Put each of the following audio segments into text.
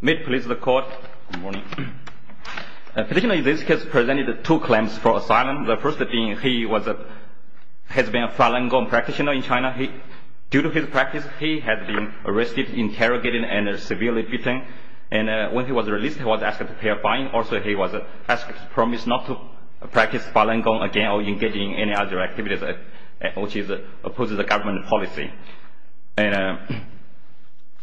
May it please the court. Good morning. Additionally, this case presented two claims for asylum. The first being he has been a Falun Gong practitioner in China. Due to his practice, he has been arrested, interrogated and severely beaten. And when he was released, he was asked to pay a fine. Also, he was promised not to practice Falun Gong again or engage in any other activities, which opposes the government policy.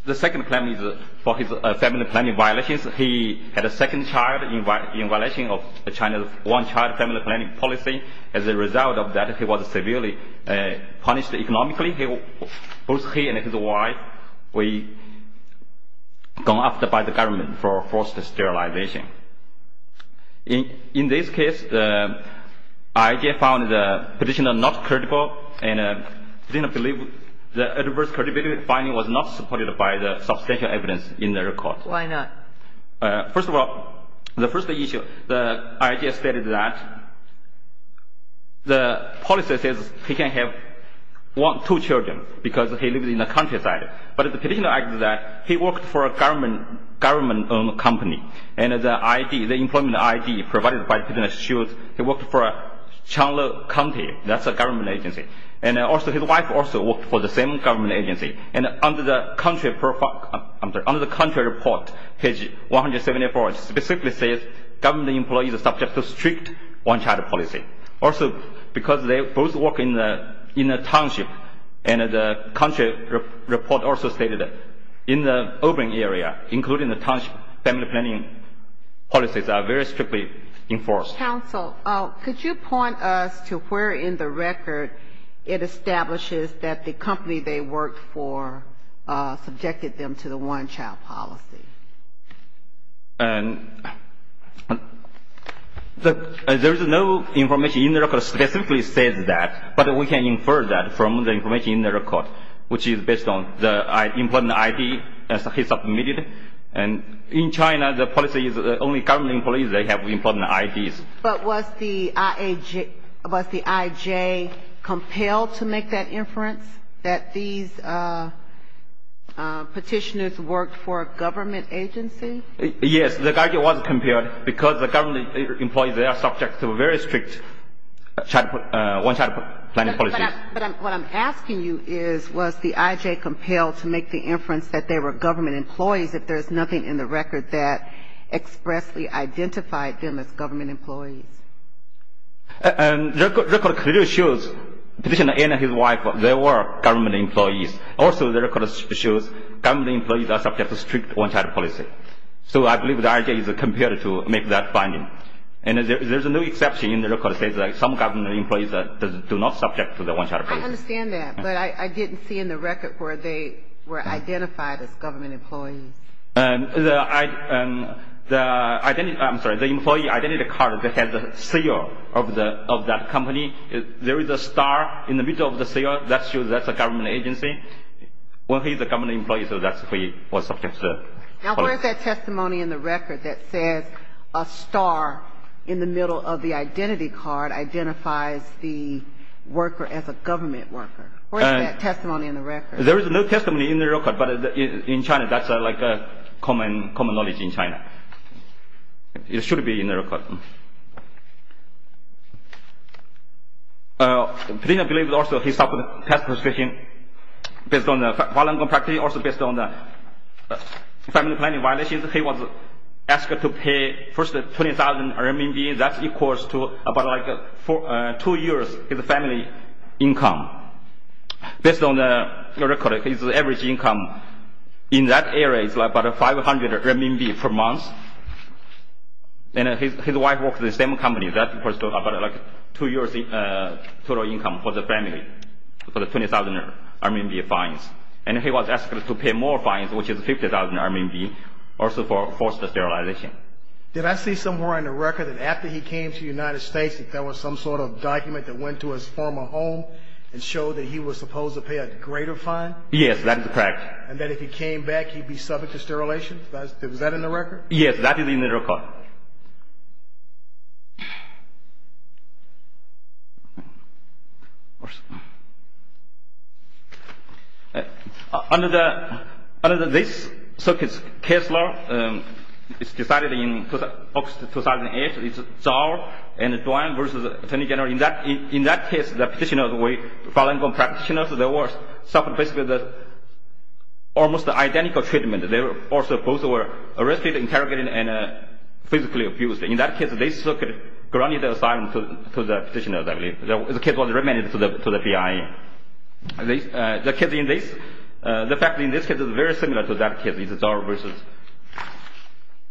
The second claim is for his family planning violations. He had a second child in violation of China's one-child family planning policy. As a result of that, he was severely punished economically. Both he and his wife were gone after by the government for forced sterilization. In this case, the IJ found the petitioner not critical and did not believe the adverse critical finding was not supported by the substantial evidence in the report. Why not? First of all, the first issue, the IJ stated that the policy says he can have two children because he lives in the countryside. But the petitioner argued that he worked for a government-owned company and the employment ID provided by the petitioner shows he worked for Changlu County. That's a government agency. And also, his wife also worked for the same government agency. And under the country report, page 174, it specifically says government employees are subject to strict one-child policy. Also, because they both work in the township, and the country report also stated that in the urban area, including the township, family planning policies are very strictly enforced. Counsel, could you point us to where in the record it establishes that the company they worked for subjected them to the one-child policy? There is no information in the record that specifically says that, but we can infer that from the information in the record, which is based on the employment ID that he submitted. And in China, the policy is only government employees that have employment IDs. But was the IJ compelled to make that inference, that these petitioners worked for a government agency? Yes, the IJ was compelled because the government employees, they are subject to very strict one-child planning policies. But what I'm asking you is, was the IJ compelled to make the inference that they were government employees, if there's nothing in the record that expressly identified them as government employees? The record clearly shows the petitioner and his wife, they were government employees. Also, the record shows government employees are subject to strict one-child policy. So I believe the IJ is compelled to make that finding. And there's no exception in the record that says that some government employees do not subject to the one-child policy. I understand that. But I didn't see in the record where they were identified as government employees. I'm sorry. The employee ID card that has the CEO of that company, there is a star in the middle of the CEO. That shows that's a government agency. Well, he's a government employee, so that's what he was subject to. Now, where is that testimony in the record that says a star in the middle of the identity card identifies the worker as a government worker? Where is that testimony in the record? There is no testimony in the record. But in China, that's like common knowledge in China. It should be in the record. I believe also he suffered tax persecution based on the family planning violations. He was asked to pay first 20,000 RMB. That's equal to about two years of his family income. Based on the record, his average income in that area is about 500 RMB per month. And his wife works in the same company. That equals to about two years total income for the family for the 20,000 RMB fines. And he was asked to pay more fines, which is 50,000 RMB, also for forced sterilization. Did I see somewhere in the record that after he came to the United States, that there was some sort of document that went to his former home and showed that he was supposed to pay a greater fine? Yes, that is correct. And that if he came back, he'd be subject to sterilization? Was that in the record? Yes, that is in the record. Under this case law, it's decided in August 2008, it's Zhao and Duan versus Attorney General. In that case, the petitioner, the way the filing of the petitioner, suffered basically almost identical treatment. They were both arrested, interrogated, and physically abused. In that case, they still could grant the asylum to the petitioner, I believe. The case was remanded to the BIA. The fact in this case is very similar to that case, Zhao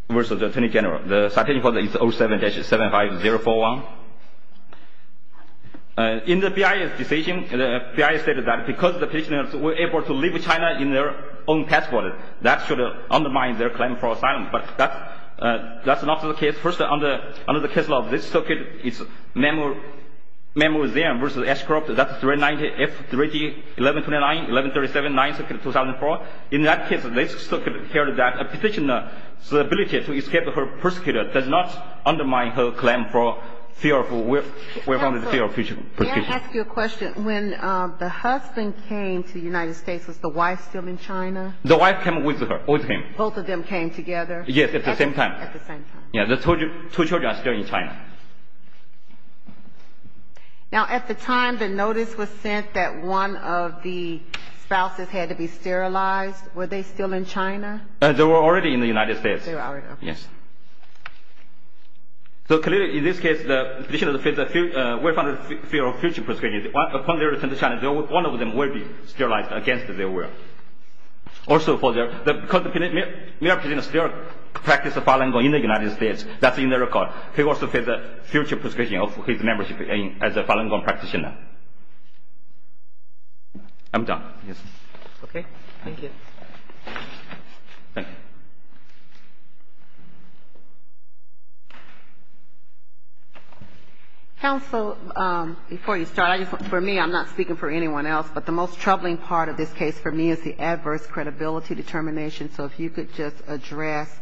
versus Attorney General. The citation for that is 07-75041. In the BIA's decision, the BIA stated that because the petitioner was able to leave China in their own passport, that should undermine their claim for asylum. But that's not the case. First, under the case law of this circuit, it's Meng Wuxian versus Ashcroft. That's 390-F31129-1137-9, Circuit 2004. In that case, they still could hear that a petitioner's ability to escape her persecutor does not undermine her claim for fear of future persecution. May I ask you a question? When the husband came to the United States, was the wife still in China? The wife came with him. Both of them came together? Yes, at the same time. At the same time. The two children are still in China. Now, at the time the notice was sent that one of the spouses had to be sterilized, were they still in China? They were already in the United States. They were already in the United States. Yes. So clearly, in this case, the petitioner will face the fear of future persecution. Upon their return to China, one of them will be sterilized against their will. Also, because the mayor petitioner still practices Falun Gong in the United States, that's in the record. He will also face the future persecution of his membership as a Falun Gong practitioner. I'm done. Okay. Thank you. Thank you. Counsel, before you start, for me, I'm not speaking for anyone else, but the most troubling part of this case for me is the adverse credibility determination. So if you could just address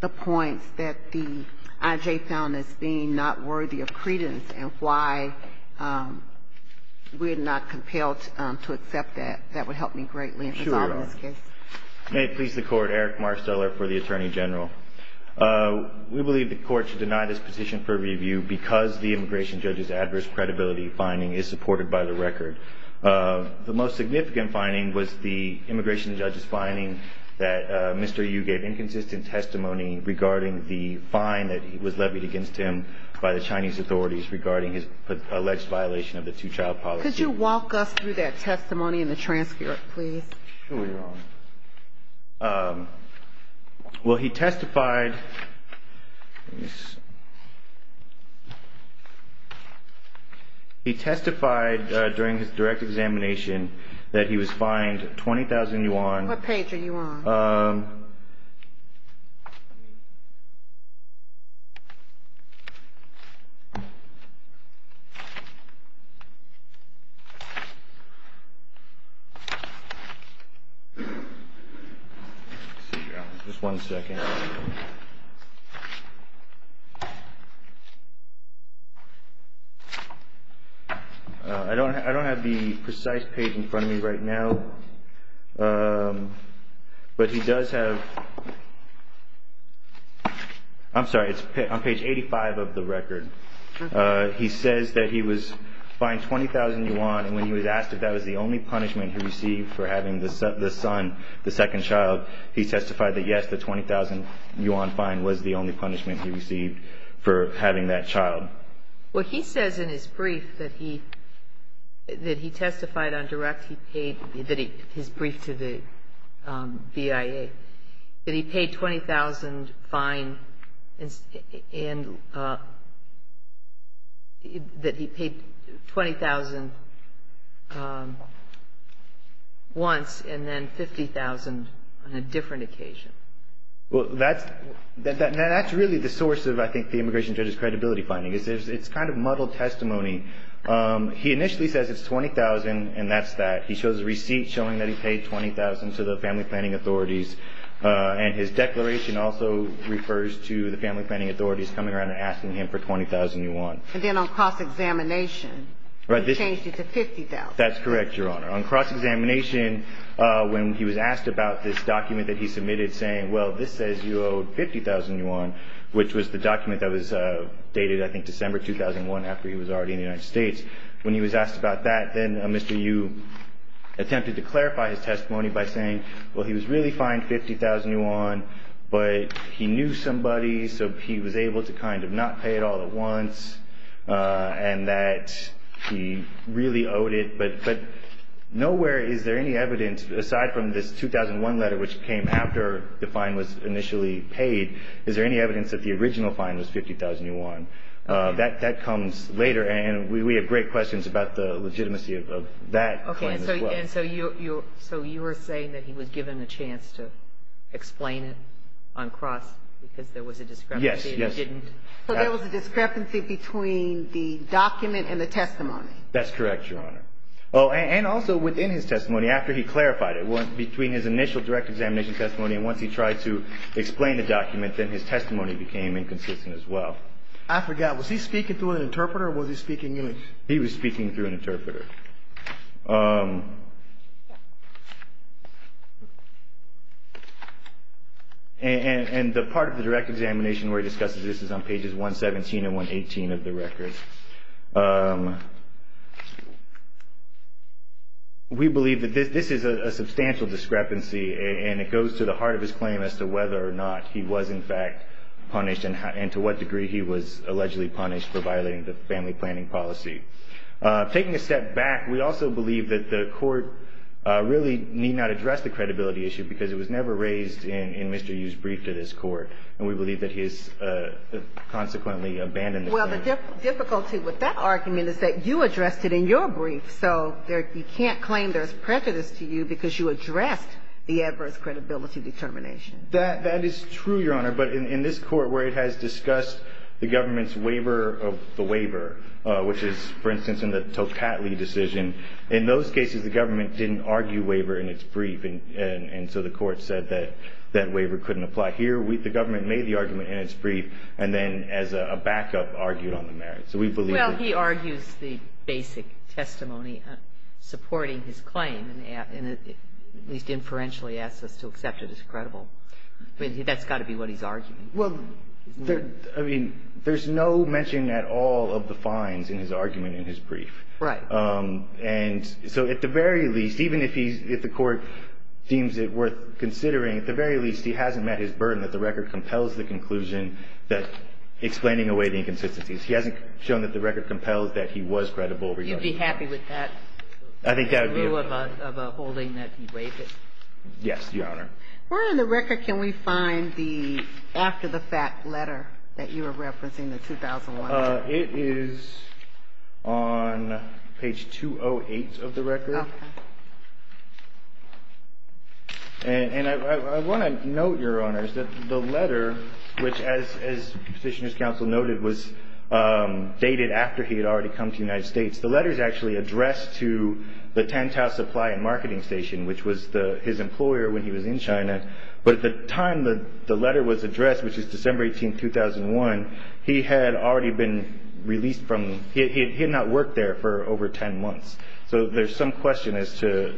the points that the IJ found as being not worthy of credence and why we're not compelled to accept that, that would help me greatly. Thank you, Your Honor. That's all in this case. May it please the Court. Eric Marsteller for the Attorney General. We believe the Court should deny this petition for review because the immigration judge's adverse credibility finding is supported by the record. The most significant finding was the immigration judge's finding that Mr. Yu gave inconsistent testimony regarding the fine that was levied against him by the Chinese authorities regarding his alleged violation of the two-child policy. Could you walk us through that testimony in the transcript, please? Well, he testified during his direct examination that he was fined 20,000 yuan. What page are you on? I don't have the precise page in front of me right now, but he does have – I'm sorry, it's on page 85 of the record. He says that he was fined 20,000 yuan, and when he was asked if that was the only punishment he received for having the son, the second child, he testified that, yes, the 20,000 yuan fine was the only punishment he received for having that child. Well, he says in his brief that he testified on direct, his brief to the BIA, that he paid 20,000 yuan once and then 50,000 yuan on a different occasion. Well, that's really the source of, I think, the immigration judge's credibility finding. It's kind of muddled testimony. He initially says it's 20,000 and that's that. He shows a receipt showing that he paid 20,000 to the family planning authorities, and his declaration also refers to the family planning authorities coming around and asking him for 20,000 yuan. And then on cross-examination, he changed it to 50,000. That's correct, Your Honor. On cross-examination, when he was asked about this document that he submitted, saying, well, this says you owe 50,000 yuan, which was the document that was dated, I think, December 2001, after he was already in the United States. When he was asked about that, then Mr. Yu attempted to clarify his testimony by saying, well, he was really fined 50,000 yuan, but he knew somebody, so he was able to kind of not pay it all at once and that he really owed it. But nowhere is there any evidence, aside from this 2001 letter, which came after the fine was initially paid, is there any evidence that the original fine was 50,000 yuan. That comes later. And we have great questions about the legitimacy of that claim as well. Okay. And so you're saying that he was given a chance to explain it on cross because there was a discrepancy and he didn't? Yes. Yes. So there was a discrepancy between the document and the testimony. That's correct, Your Honor. Oh, and also within his testimony after he clarified it, between his initial direct examination testimony and once he tried to explain the document, then his testimony became inconsistent as well. I forgot. Was he speaking through an interpreter or was he speaking in English? He was speaking through an interpreter. And the part of the direct examination where he discusses this is on pages 117 and 118 of the record. We believe that this is a substantial discrepancy and it goes to the heart of his claim as to whether or not he was in fact punished and to what degree he was allegedly punished for violating the family planning policy. Taking a step back, we also believe that the court really need not address the credibility issue because it was never raised in Mr. Yu's brief to this court. And we believe that he has consequently abandoned the claim. Well, the difficulty with that argument is that you addressed it in your brief, so you can't claim there's prejudice to you because you addressed the adverse credibility determination. That is true, Your Honor. But in this court where it has discussed the government's waiver of the waiver, which is, for instance, in the Tocatli decision, in those cases the government didn't argue waiver in its brief, and so the court said that that waiver couldn't apply. Here, the government made the argument in its brief and then as a backup argued on the merits. So we believe that the court... Well, he argues the basic testimony supporting his claim and at least inferentially asks us to accept it as credible. I mean, that's got to be what he's arguing. Well, I mean, there's no mention at all of the fines in his argument in his brief. Right. And so at the very least, even if the court deems it worth considering, at the very least he hasn't met his burden that the record compels the conclusion that explaining away the inconsistencies. He hasn't shown that the record compels that he was credible. You'd be happy with that? I think that would be... In lieu of a holding that he waived it? Yes, Your Honor. Where in the record can we find the after-the-fact letter that you were referencing, the 2001 one? It is on page 208 of the record. Okay. And I want to note, Your Honors, that the letter, which as Petitioner's Counsel noted, was dated after he had already come to the United States. The letter is actually addressed to the Tantau Supply and Marketing Station, which was his employer when he was in China. But at the time the letter was addressed, which is December 18, 2001, he had already been released from... He had not worked there for over 10 months. So there's some question as to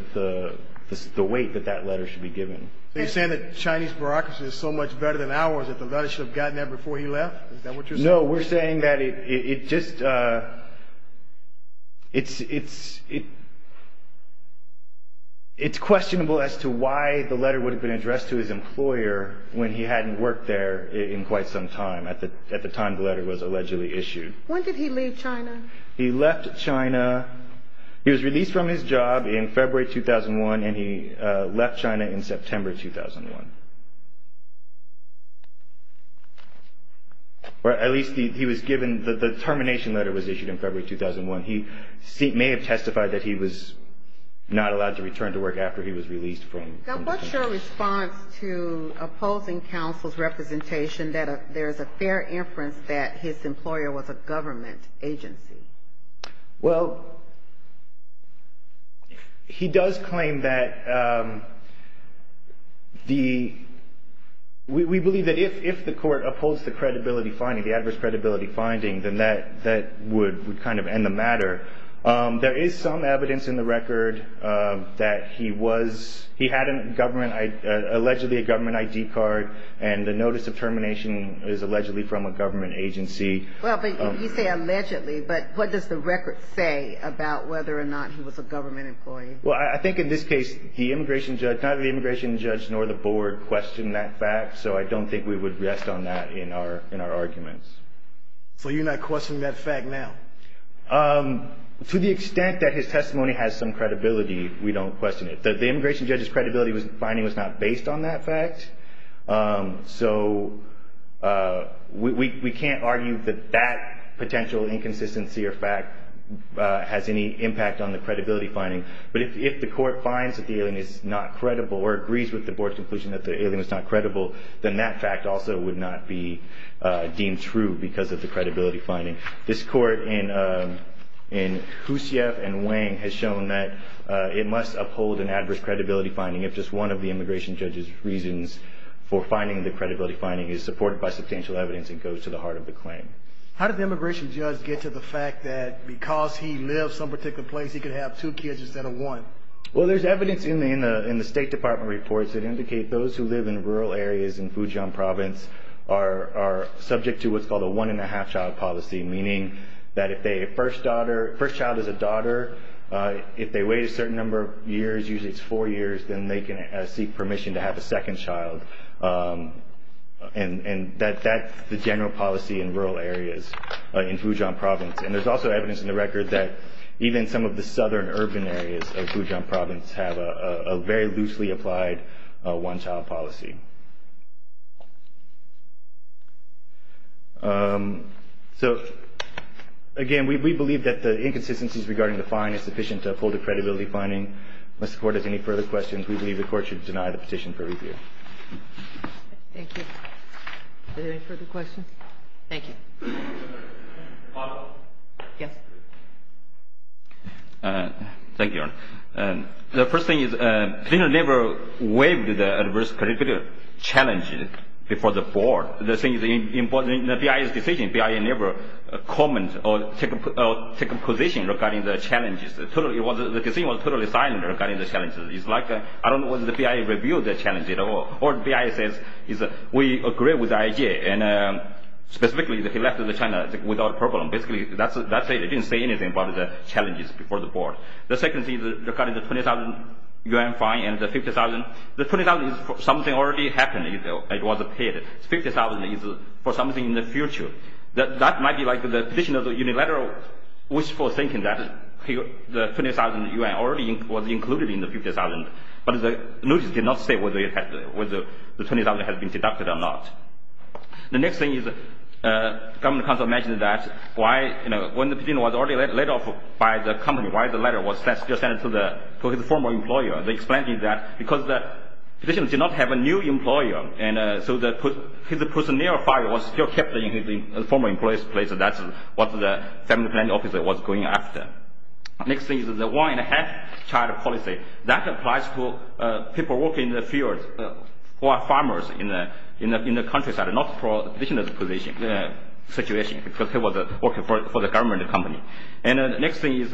the weight that that letter should be given. Are you saying that Chinese bureaucracy is so much better than ours that the letter should have gotten there before he left? Is that what you're saying? No, we're saying that it just... It's questionable as to why the letter would have been addressed to his employer when he hadn't worked there in quite some time, at the time the letter was allegedly issued. When did he leave China? He left China... He was released from his job in February 2001, and he left China in September 2001. Or at least he was given... The termination letter was issued in February 2001. He may have testified that he was not allowed to return to work after he was released from... Now, what's your response to opposing counsel's representation that there's a fair inference that his employer was a government agency? Well, he does claim that the... We believe that if the court upholds the credibility finding, the adverse credibility finding, then that would kind of end the matter. There is some evidence in the record that he was... allegedly a government ID card, and the notice of termination is allegedly from a government agency. Well, but you say allegedly, but what does the record say about whether or not he was a government employee? Well, I think in this case the immigration judge, neither the immigration judge nor the board questioned that fact, so I don't think we would rest on that in our arguments. So you're not questioning that fact now? To the extent that his testimony has some credibility, we don't question it. The immigration judge's credibility finding was not based on that fact, so we can't argue that that potential inconsistency or fact has any impact on the credibility finding. But if the court finds that the alien is not credible or agrees with the board's conclusion that the alien is not credible, then that fact also would not be deemed true because of the credibility finding. This court in Houssef and Wang has shown that it must uphold an adverse credibility finding if just one of the immigration judge's reasons for finding the credibility finding is supported by substantial evidence and goes to the heart of the claim. How did the immigration judge get to the fact that, because he lived some particular place, he could have two kids instead of one? Well, there's evidence in the State Department reports that indicate those who live in rural areas in Fujian province are subject to what's called a one-and-a-half child policy, meaning that if a first child is a daughter, if they wait a certain number of years, usually it's four years, then they can seek permission to have a second child. And that's the general policy in rural areas in Fujian province. And there's also evidence in the record that even some of the southern urban areas of Fujian province have a very loosely applied one-child policy. So, again, we believe that the inconsistencies regarding the fine is sufficient to uphold the credibility finding. If the Court has any further questions, we believe the Court should deny the petition for repeal. Thank you. Are there any further questions? Thank you. Yes. Thank you, Your Honor. The first thing is, Plano never waived the adverse credibility finding. It was a very big challenge before the Board. The thing is, in the BIA's decision, BIA never commented or took a position regarding the challenges. The decision was totally silent regarding the challenges. I don't know whether the BIA reviewed the challenge or BIA says, we agree with the idea, and specifically, he left China without a problem. Basically, that's it. It didn't say anything about the challenges before the Board. The second thing is regarding the 20,000 yuan fine and the 50,000. The 20,000 is something that already happened. It was paid. The 50,000 is for something in the future. That might be the position of the unilateral wishful thinking that the 20,000 yuan was already included in the 50,000. But the notice did not say whether the 20,000 had been deducted or not. The next thing is, the Government Council mentioned that when the petition was already laid off by the company, why the letter was still sent to his former employer. They explained to me that because the petitioner did not have a new employer, so his personnel file was still kept in his former employer's place. That's what the family planning officer was going after. The next thing is the one-and-a-half child policy. That applies to people working in the fields or farmers in the countryside, not for the petitioner's situation because he was working for the government company. And the next thing is,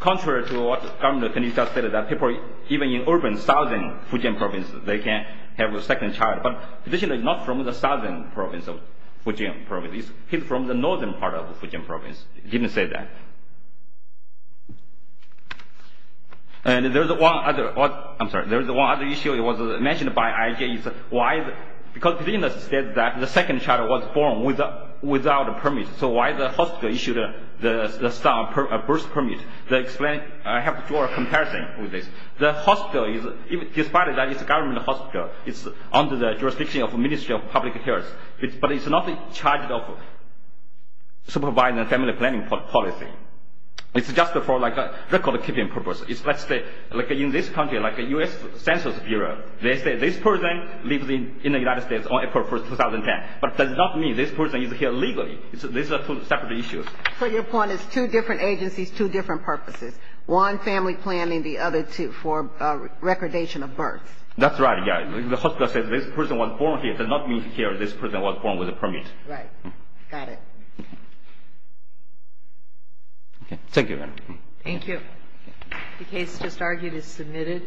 contrary to what the government committee just said, that people even in urban southern Fujian province, they can have a second child. But the petitioner is not from the southern province of Fujian province. He's from the northern part of Fujian province. It didn't say that. And there's one other issue that was mentioned by IJ. Because the petitioner said that the second child was born without a permit, so why the hospital issued a birth permit. I have to draw a comparison with this. The hospital, despite that it's a government hospital, it's under the jurisdiction of the Ministry of Public Health, but it's not in charge of supervising family planning policy. It's just for record-keeping purposes. In this country, like the U.S. Census Bureau, they say this person lives in the United States on April 1, 2010. But that does not mean this person is here legally. These are two separate issues. So your point is two different agencies, two different purposes, one family planning, the other for recordation of births. That's right. The hospital says this person was born here. It does not mean here this person was born with a permit. Right. Got it. Thank you. Thank you. The case just argued is submitted.